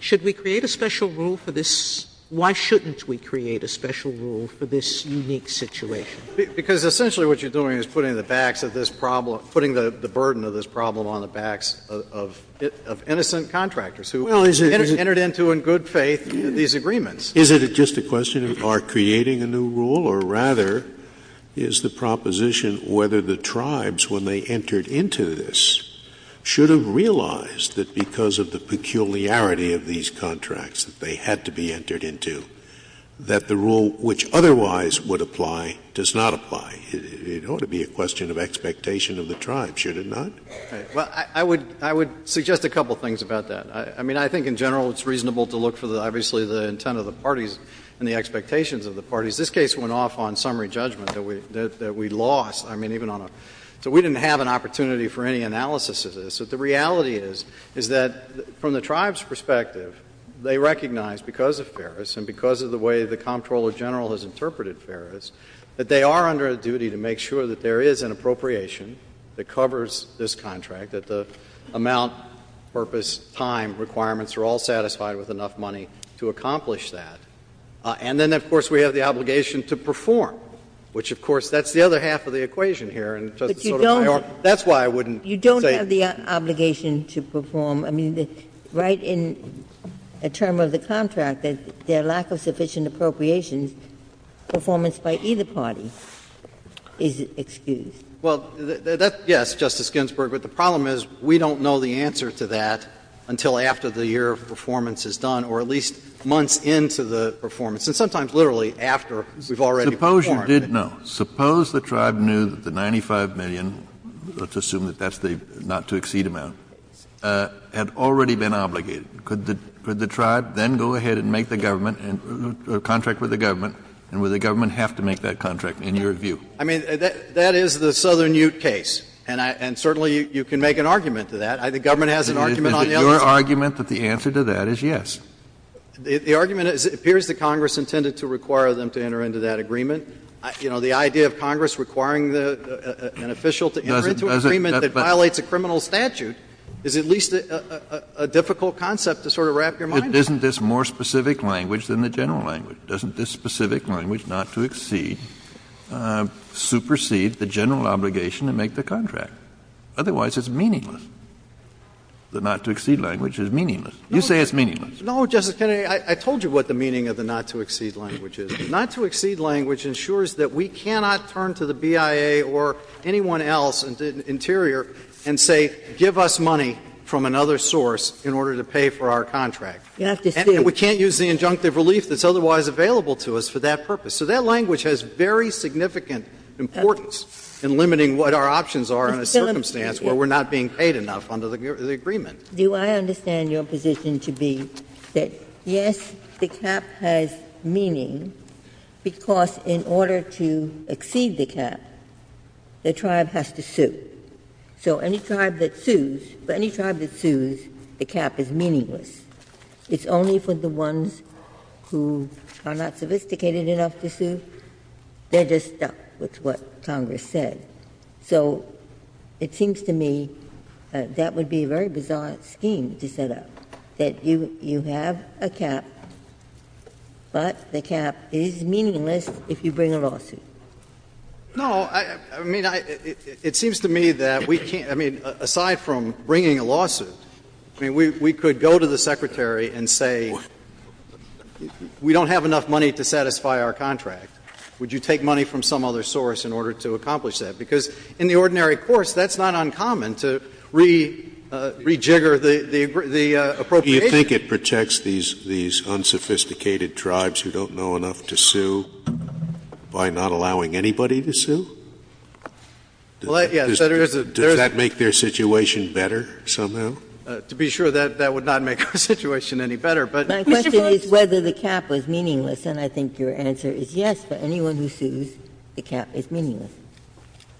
Should we create a special rule for this? Why shouldn't we create a special rule for this unique situation? Because essentially what you're doing is putting the backs of this problem, putting the burden of this problem on the backs of innocent contractors who entered into, in good faith, these agreements. Is it just a question of our creating a new rule? Or rather, is the proposition whether the tribes, when they entered into this, should have realized that because of the peculiarity of these contracts that they had to be entered into, that the rule which otherwise would apply does not apply? It ought to be a question of expectation of the tribes, should it not? Well, I would suggest a couple of things about that. I mean, I think in general it's reasonable to look for obviously the intent of the parties and the expectations of the parties. This case went off on summary judgment that we lost. I mean, even on a, so we didn't have an opportunity for any analysis of this. But the reality is, is that from the tribe's perspective, they recognize because of Ferris and because of the way the Comptroller General has interpreted Ferris, that they are under a duty to make sure that there is an appropriation that covers this contract, that the amount, purpose, time, requirements are all satisfied with enough money to accomplish that. And then, of course, we have the obligation to perform, which, of course, that's the other half of the equation here. And, Justice Sotomayor, that's why I wouldn't say that. But you don't have the obligation to perform. I mean, right in a term of the contract, their lack of sufficient appropriations, performance by either party is excused. Well, that's yes, Justice Ginsburg. But the problem is we don't know the answer to that until after the year of performance is done or at least months into the performance, and sometimes literally after we've already performed. Suppose you did know. Suppose the tribe knew that the $95 million, let's assume that that's the not-to-exceed amount, had already been obligated. Could the tribe then go ahead and make the government and contract with the government, and would the government have to make that contract, in your view? I mean, that is the Southern Ute case. The government has an argument on the other side. Your argument that the answer to that is yes. The argument appears that Congress intended to require them to enter into that agreement. You know, the idea of Congress requiring an official to enter into an agreement that violates a criminal statute is at least a difficult concept to sort of wrap your mind around. Isn't this more specific language than the general language? Doesn't this specific language, not-to-exceed, supersede the general obligation to make the contract? Otherwise, it's meaningless. The not-to-exceed language is meaningless. You say it's meaningless. No, Justice Kennedy. I told you what the meaning of the not-to-exceed language is. The not-to-exceed language ensures that we cannot turn to the BIA or anyone else in the interior and say, give us money from another source in order to pay for our contract. And we can't use the injunctive relief that's otherwise available to us for that purpose. So that language has very significant importance in limiting what our options are in a circumstance where we're not being paid enough under the agreement. Ginsburg. Do I understand your position to be that, yes, the cap has meaning because in order to exceed the cap, the tribe has to sue. So any tribe that sues, for any tribe that sues, the cap is meaningless. It's only for the ones who are not sophisticated enough to sue. They're just stuck with what Congress said. So it seems to me that would be a very bizarre scheme to set up, that you have a cap, but the cap is meaningless if you bring a lawsuit. No. I mean, it seems to me that we can't. I mean, aside from bringing a lawsuit, I mean, we could go to the Secretary and say we don't have enough money to satisfy our contract. Would you take money from some other source in order to accomplish that? Because in the ordinary course, that's not uncommon to rejigger the appropriation. Scalia. Do you think it protects these unsophisticated tribes who don't know enough to sue by not allowing anybody to sue? Well, yes. Does that make their situation better somehow? To be sure, that would not make our situation any better. But Mr. Fox. If that is whether the cap is meaningless, then I think your answer is yes. For anyone who sues, the cap is meaningless.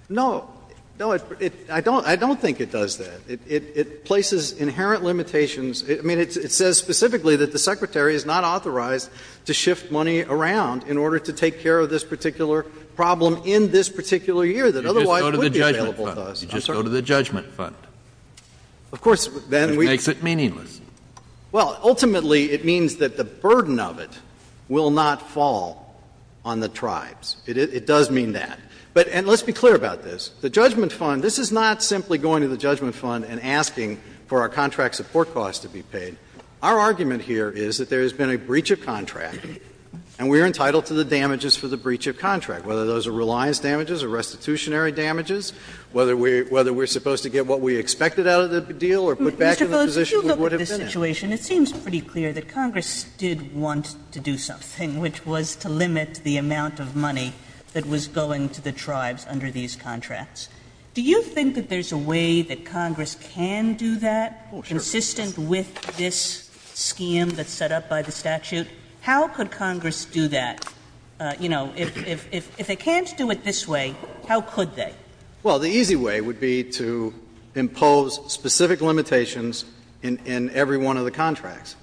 No. No. I don't think it does that. It places inherent limitations. I mean, it says specifically that the Secretary is not authorized to shift money around in order to take care of this particular problem in this particular year that otherwise would be available to us. You just go to the judgment fund. Of course. It makes it meaningless. Well, ultimately, it means that the burden of it will not fall on the tribes. It does mean that. And let's be clear about this. The judgment fund, this is not simply going to the judgment fund and asking for our contract support costs to be paid. Our argument here is that there has been a breach of contract, and we are entitled to the damages for the breach of contract, whether those are reliance damages or restitutionary damages, whether we are supposed to get what we expected out of the deal or put back in the position we would have been in. Sotomayor, Mr. Boas, if you look at the situation, it seems pretty clear that Congress did want to do something, which was to limit the amount of money that was going to the tribes under these contracts. Do you think that there's a way that Congress can do that? Oh, sure. Consistent with this scheme that's set up by the statute? How could Congress do that? You know, if they can't do it this way, how could they? Well, the easy way would be to impose specific limitations in every one of the contracts,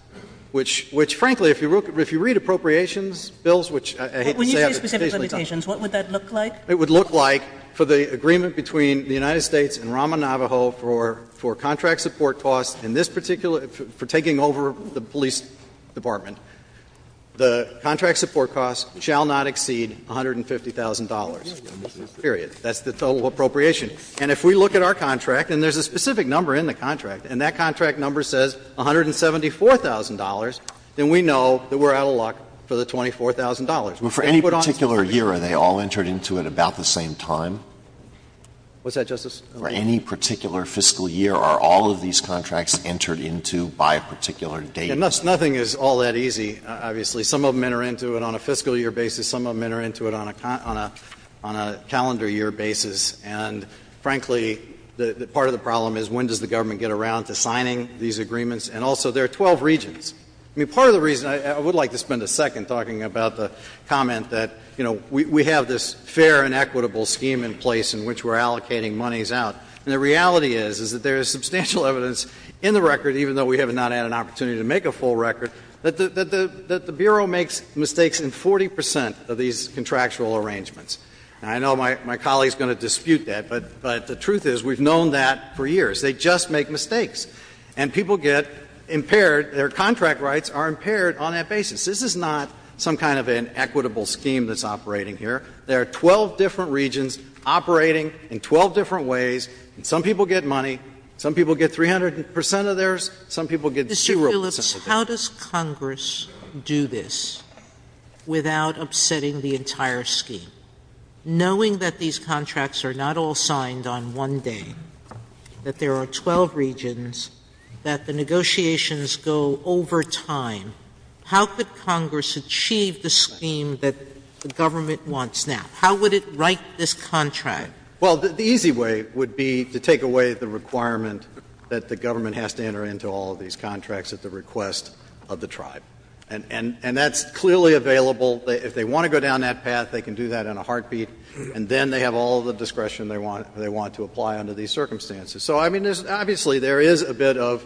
which, frankly, if you read appropriations bills, which I hate to say out of the case, they don't. When you say specific limitations, what would that look like? It would look like, for the agreement between the United States and Rama Navajo for contract support costs in this particular — for taking over the police department, the contract support costs shall not exceed $150,000, period. That's the total appropriation. And if we look at our contract, and there's a specific number in the contract, and that contract number says $174,000, then we know that we're out of luck for the $24,000. They put on this agreement. But for any particular year, are they all entered into at about the same time? What's that, Justice Alito? For any particular fiscal year, are all of these contracts entered into by a particular date? Nothing is all that easy, obviously. Some of them enter into it on a fiscal year basis. Some of them enter into it on a calendar year basis. And, frankly, part of the problem is when does the government get around to signing these agreements? And also, there are 12 regions. I mean, part of the reason — I would like to spend a second talking about the comment that, you know, we have this fair and equitable scheme in place in which we're allocating monies out. And the reality is, is that there is substantial evidence in the record, even though we have not had an opportunity to make a full record, that the Bureau makes mistakes in 40 percent of these contractual arrangements. And I know my colleague is going to dispute that, but the truth is we've known that for years. They just make mistakes. And people get impaired. Their contract rights are impaired on that basis. This is not some kind of an equitable scheme that's operating here. There are 12 different regions operating in 12 different ways. And some people get money. Some people get 300 percent of theirs. Some people get zero percent of theirs. Sotomayor, how does Congress do this without upsetting the entire scheme? Knowing that these contracts are not all signed on one day, that there are 12 regions, that the negotiations go over time, how could Congress achieve the scheme that the government wants now? How would it write this contract? Well, the easy way would be to take away the requirement that the government has to enter into all of these contracts at the request of the tribe. And that's clearly available. If they want to go down that path, they can do that in a heartbeat, and then they have all the discretion they want to apply under these circumstances. So, I mean, obviously, there is a bit of,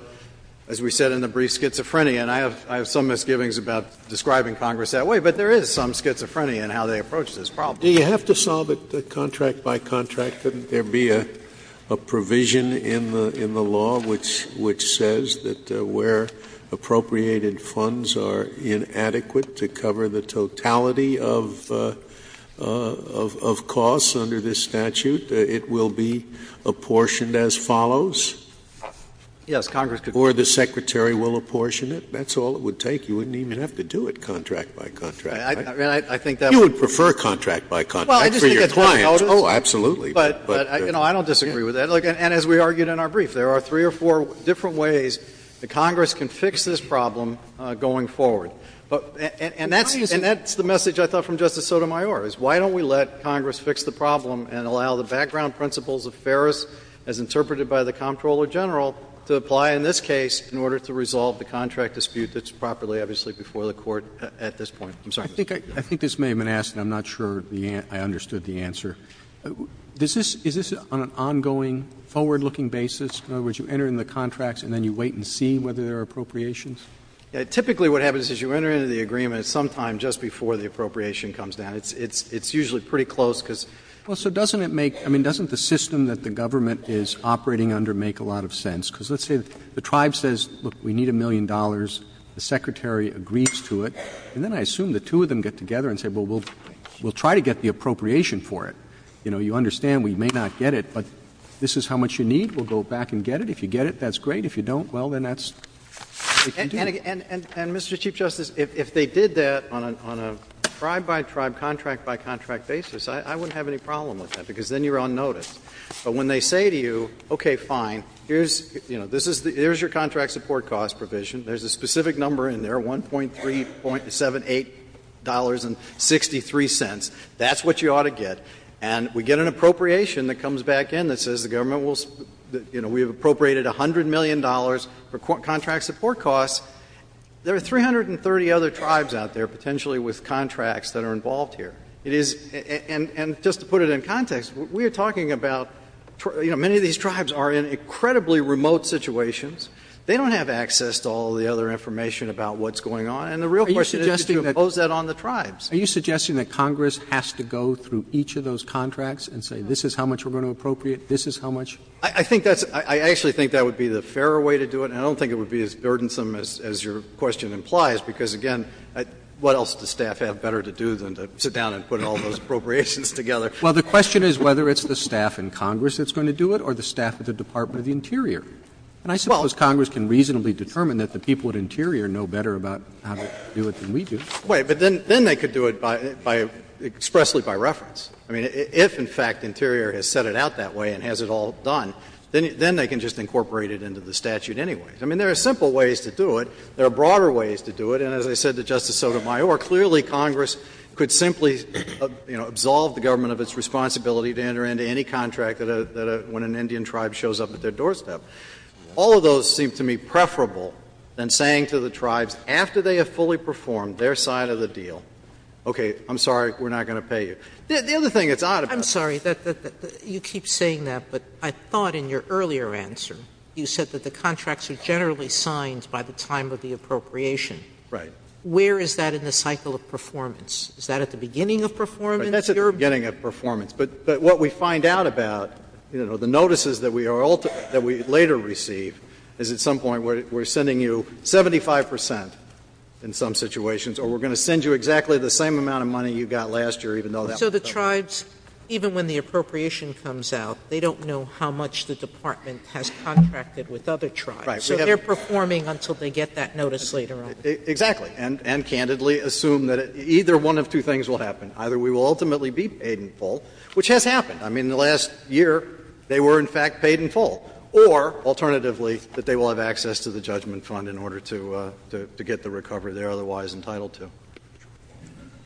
as we said in the brief, schizophrenia. And I have some misgivings about describing Congress that way. But there is some schizophrenia in how they approach this problem. Scalia. Do you have to solve it contract by contract? Couldn't there be a provision in the law which says that where appropriated funds are inadequate to cover the totality of costs under this statute, it will be apportioned as follows? Yes, Congress could do that. Or the Secretary will apportion it. That's all it would take. You wouldn't even have to do it contract by contract. You would prefer contract by contract for your clients. Oh, absolutely. But, you know, I don't disagree with that. And as we argued in our brief, there are three or four different ways that Congress can fix this problem going forward. And that's the message I thought from Justice Sotomayor, is why don't we let Congress fix the problem and allow the background principles of Ferris, as interpreted by the Comptroller General, to apply in this case in order to resolve the contract dispute that's properly, obviously, before the Court at this point? I'm sorry. I think this may have been asked, and I'm not sure I understood the answer. Is this on an ongoing, forward-looking basis? In other words, you enter in the contracts and then you wait and see whether there are appropriations? Typically what happens is you enter into the agreement at some time just before the appropriation comes down. It's usually pretty close, because — Well, so doesn't it make — I mean, doesn't the system that the government is operating under make a lot of sense? Because let's say the Tribe says, look, we need a million dollars. The Secretary agrees to it. And then I assume the two of them get together and say, well, we'll try to get the appropriation for it. You know, you understand we may not get it, but this is how much you need. We'll go back and get it. If you get it, that's great. If you don't, well, then that's — And, Mr. Chief Justice, if they did that on a Tribe-by-Tribe, contract-by-contract basis, I wouldn't have any problem with that, because then you're on notice. But when they say to you, okay, fine, here's — you know, this is the — here's your contract support cost provision. There's a specific number in there, $1.378.63. That's what you ought to get. And we get an appropriation that comes back in that says the government will — you know, we have appropriated $100 million for contract support costs. There are 330 other Tribes out there potentially with contracts that are involved here. It is — and just to put it in context, we are talking about — you know, many of these Tribes are in incredibly remote situations. They don't have access to all of the other information about what's going on. And the real question is to impose that on the Tribes. Roberts. Are you suggesting that Congress has to go through each of those contracts and say this is how much we're going to appropriate, this is how much? I think that's — I actually think that would be the fairer way to do it. And I don't think it would be as burdensome as your question implies, because, again, what else does staff have better to do than to sit down and put all those appropriations together? Well, the question is whether it's the staff in Congress that's going to do it or the staff at the Department of the Interior. And I suppose Congress can reasonably determine that the people at Interior know better about how to do it than we do. Wait. But then they could do it by — expressly by reference. I mean, if, in fact, Interior has set it out that way and has it all done, then they can just incorporate it into the statute anyway. I mean, there are simple ways to do it. There are broader ways to do it. And as I said to Justice Sotomayor, clearly Congress could simply, you know, absolve the government of its responsibility to enter into any contract that a — when an Indian tribe shows up at their doorstep. All of those seem to me preferable than saying to the tribes, after they have fully performed their side of the deal, okay, I'm sorry, we're not going to pay you. The other thing that's odd about it is that the — Sotomayor, I'm sorry, you keep saying that, but I thought in your earlier answer you said that the contracts are generally signed by the time of the appropriation. Right. Where is that in the cycle of performance? Is that at the beginning of performance? That's at the beginning of performance. But what we find out about, you know, the notices that we are ultimately — that we later receive is at some point we're sending you 75 percent in some situations, or we're going to send you exactly the same amount of money you got last year, even though that was the case. So the tribes, even when the appropriation comes out, they don't know how much the department has contracted with other tribes. Right. So they're performing until they get that notice later on. Exactly. And candidly assume that either one of two things will happen. Either we will ultimately be paid in full, which has happened. I mean, in the last year they were, in fact, paid in full. Or, alternatively, that they will have access to the judgment fund in order to get the recovery they are otherwise entitled to.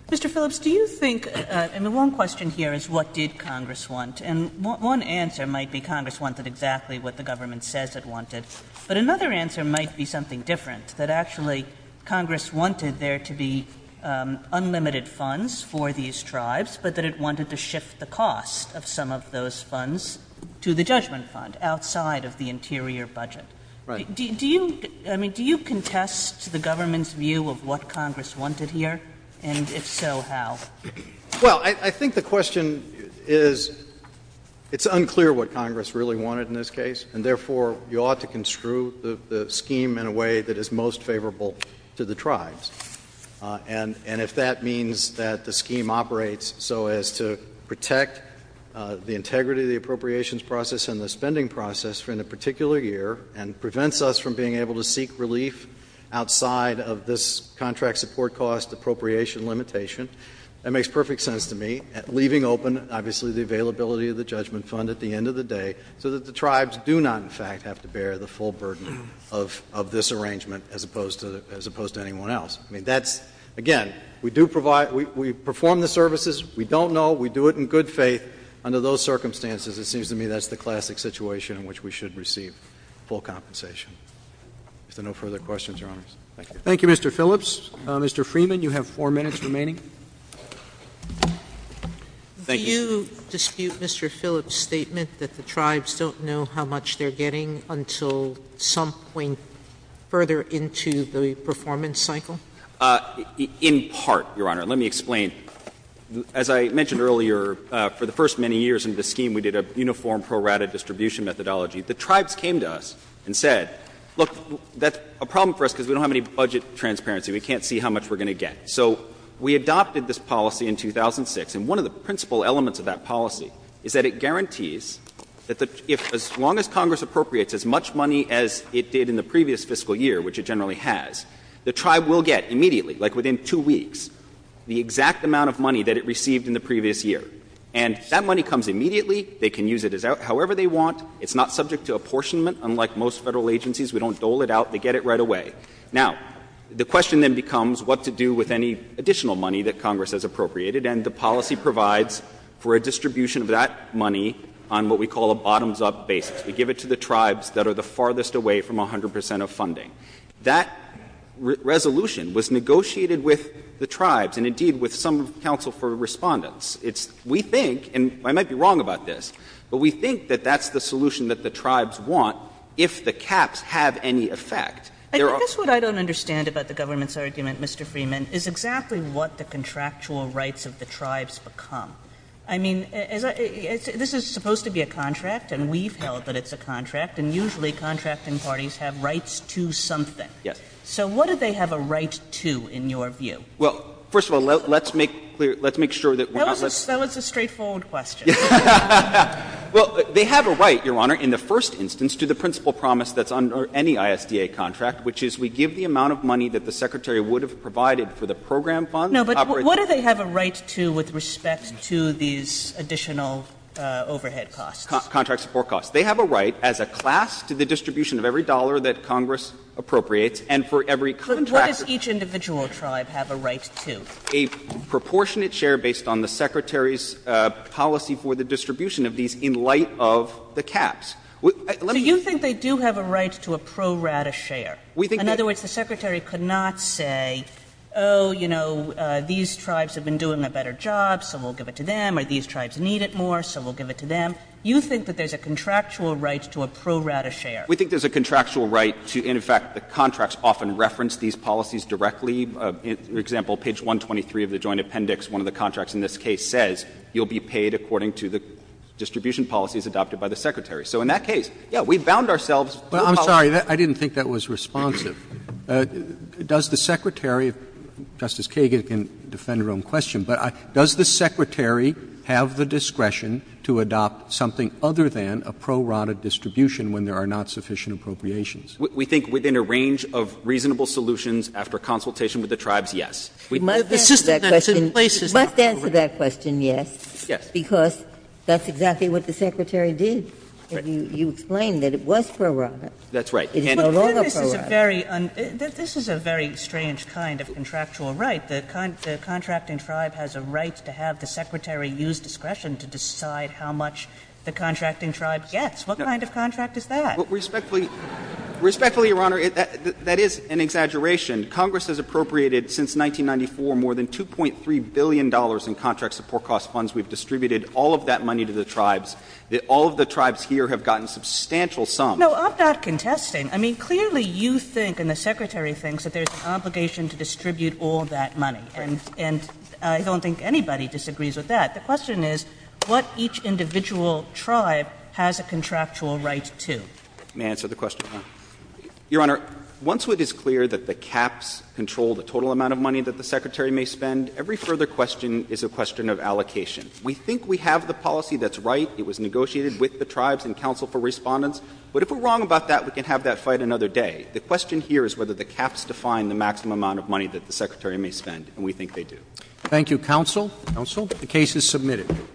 Mr. Phillips, do you think — and the one question here is what did Congress want. And one answer might be Congress wanted exactly what the government says it wanted, but another answer might be something different, that actually Congress wanted there to be unlimited funds for these tribes, but that it wanted to shift the cost of some of those funds to the judgment fund, outside of the interior budget. Right. Do you — I mean, do you contest the government's view of what Congress wanted here? And if so, how? Well, I think the question is — it's unclear what Congress really wanted in this case, and therefore you ought to construe the scheme in a way that is most favorable to the tribes. And if that means that the scheme operates so as to protect the integrity of the appropriations process and the spending process in a particular year, and prevents us from being able to seek relief outside of this contract support cost appropriation limitation, that makes perfect sense to me, leaving open, obviously, the availability of the judgment fund at the end of the day, so that the tribes do not, in fact, have to I mean, that's — again, we do provide — we perform the services. We don't know. We do it in good faith. Under those circumstances, it seems to me that's the classic situation in which we should receive full compensation. Is there no further questions, Your Honors? Thank you. Thank you, Mr. Phillips. Mr. Freeman, you have four minutes remaining. Thank you. Do you dispute Mr. Phillips' statement that the tribes don't know how much they're getting until some point further into the performance cycle? In part, Your Honor. Let me explain. As I mentioned earlier, for the first many years in this scheme, we did a uniform pro rata distribution methodology. The tribes came to us and said, look, that's a problem for us because we don't have any budget transparency. We can't see how much we're going to get. So we adopted this policy in 2006, and one of the principal elements of that policy is that it guarantees that as long as Congress appropriates as much money as it did in the previous fiscal year, which it generally has, the tribe will get immediately, like within two weeks, the exact amount of money that it received in the previous year. And that money comes immediately. They can use it however they want. It's not subject to apportionment, unlike most Federal agencies. We don't dole it out. They get it right away. Now, the question then becomes what to do with any additional money that Congress has appropriated, and the policy provides for a distribution of that money on what we call a bottoms-up basis. We give it to the tribes that are the farthest away from 100 percent of funding. That resolution was negotiated with the tribes and, indeed, with some of the counsel for Respondents. It's we think, and I might be wrong about this, but we think that that's the solution There are. Sotomayor, I guess what I don't understand about the government's argument, Mr. Freeman, is exactly what the contractual rights of the tribes become. I mean, this is supposed to be a contract, and we've held that it's a contract, and usually contracting parties have rights to something. Yes. So what do they have a right to, in your view? Well, first of all, let's make clear, let's make sure that we're not. That was a straightforward question. Well, they have a right, Your Honor, in the first instance, to the principal promise that's under any ISDA contract, which is we give the amount of money that the Secretary would have provided for the program funds. No, but what do they have a right to with respect to these additional overhead costs? Contract support costs. They have a right as a class to the distribution of every dollar that Congress appropriates and for every contract. But what does each individual tribe have a right to? A proportionate share based on the Secretary's policy for the distribution of these in light of the caps. So you think they do have a right to a pro rata share? In other words, the Secretary could not say, oh, you know, these tribes have been doing a better job, so we'll give it to them, or these tribes need it more, so we'll give it to them. You think that there's a contractual right to a pro rata share? We think there's a contractual right to, and, in fact, the contracts often reference these policies directly. For example, page 123 of the Joint Appendix, one of the contracts in this case says you'll be paid according to the distribution policies adopted by the Secretary. So in that case, yes, we've bound ourselves to a policy. Roberts. Roberts. I didn't think that was responsive. Does the Secretary, Justice Kagan can defend her own question, but does the Secretary have the discretion to adopt something other than a pro rata distribution when there are not sufficient appropriations? We think within a range of reasonable solutions after consultation with the tribes, yes. The system that it's in place is not appropriate. You must answer that question, yes, because that's exactly what the Secretary did. You explained that it was pro rata. That's right. It is no longer pro rata. But this is a very strange kind of contractual right. The contracting tribe has a right to have the Secretary use discretion to decide how much the contracting tribe gets. What kind of contract is that? Respectfully, Your Honor, that is an exaggeration. Congress has appropriated since 1994 more than $2.3 billion in contract support cost funds. We've distributed all of that money to the tribes. All of the tribes here have gotten substantial sums. No, I'm not contesting. I mean, clearly you think and the Secretary thinks that there's an obligation to distribute all that money. And I don't think anybody disagrees with that. The question is what each individual tribe has a contractual right to. May I answer the question? Your Honor, once it is clear that the caps control the total amount of money that the Secretary may spend, every further question is a question of allocation. We think we have the policy that's right. It was negotiated with the tribes and counsel for respondents. But if we're wrong about that, we can have that fight another day. The question here is whether the caps define the maximum amount of money that the Secretary may spend. And we think they do. Thank you, counsel. The case is submitted.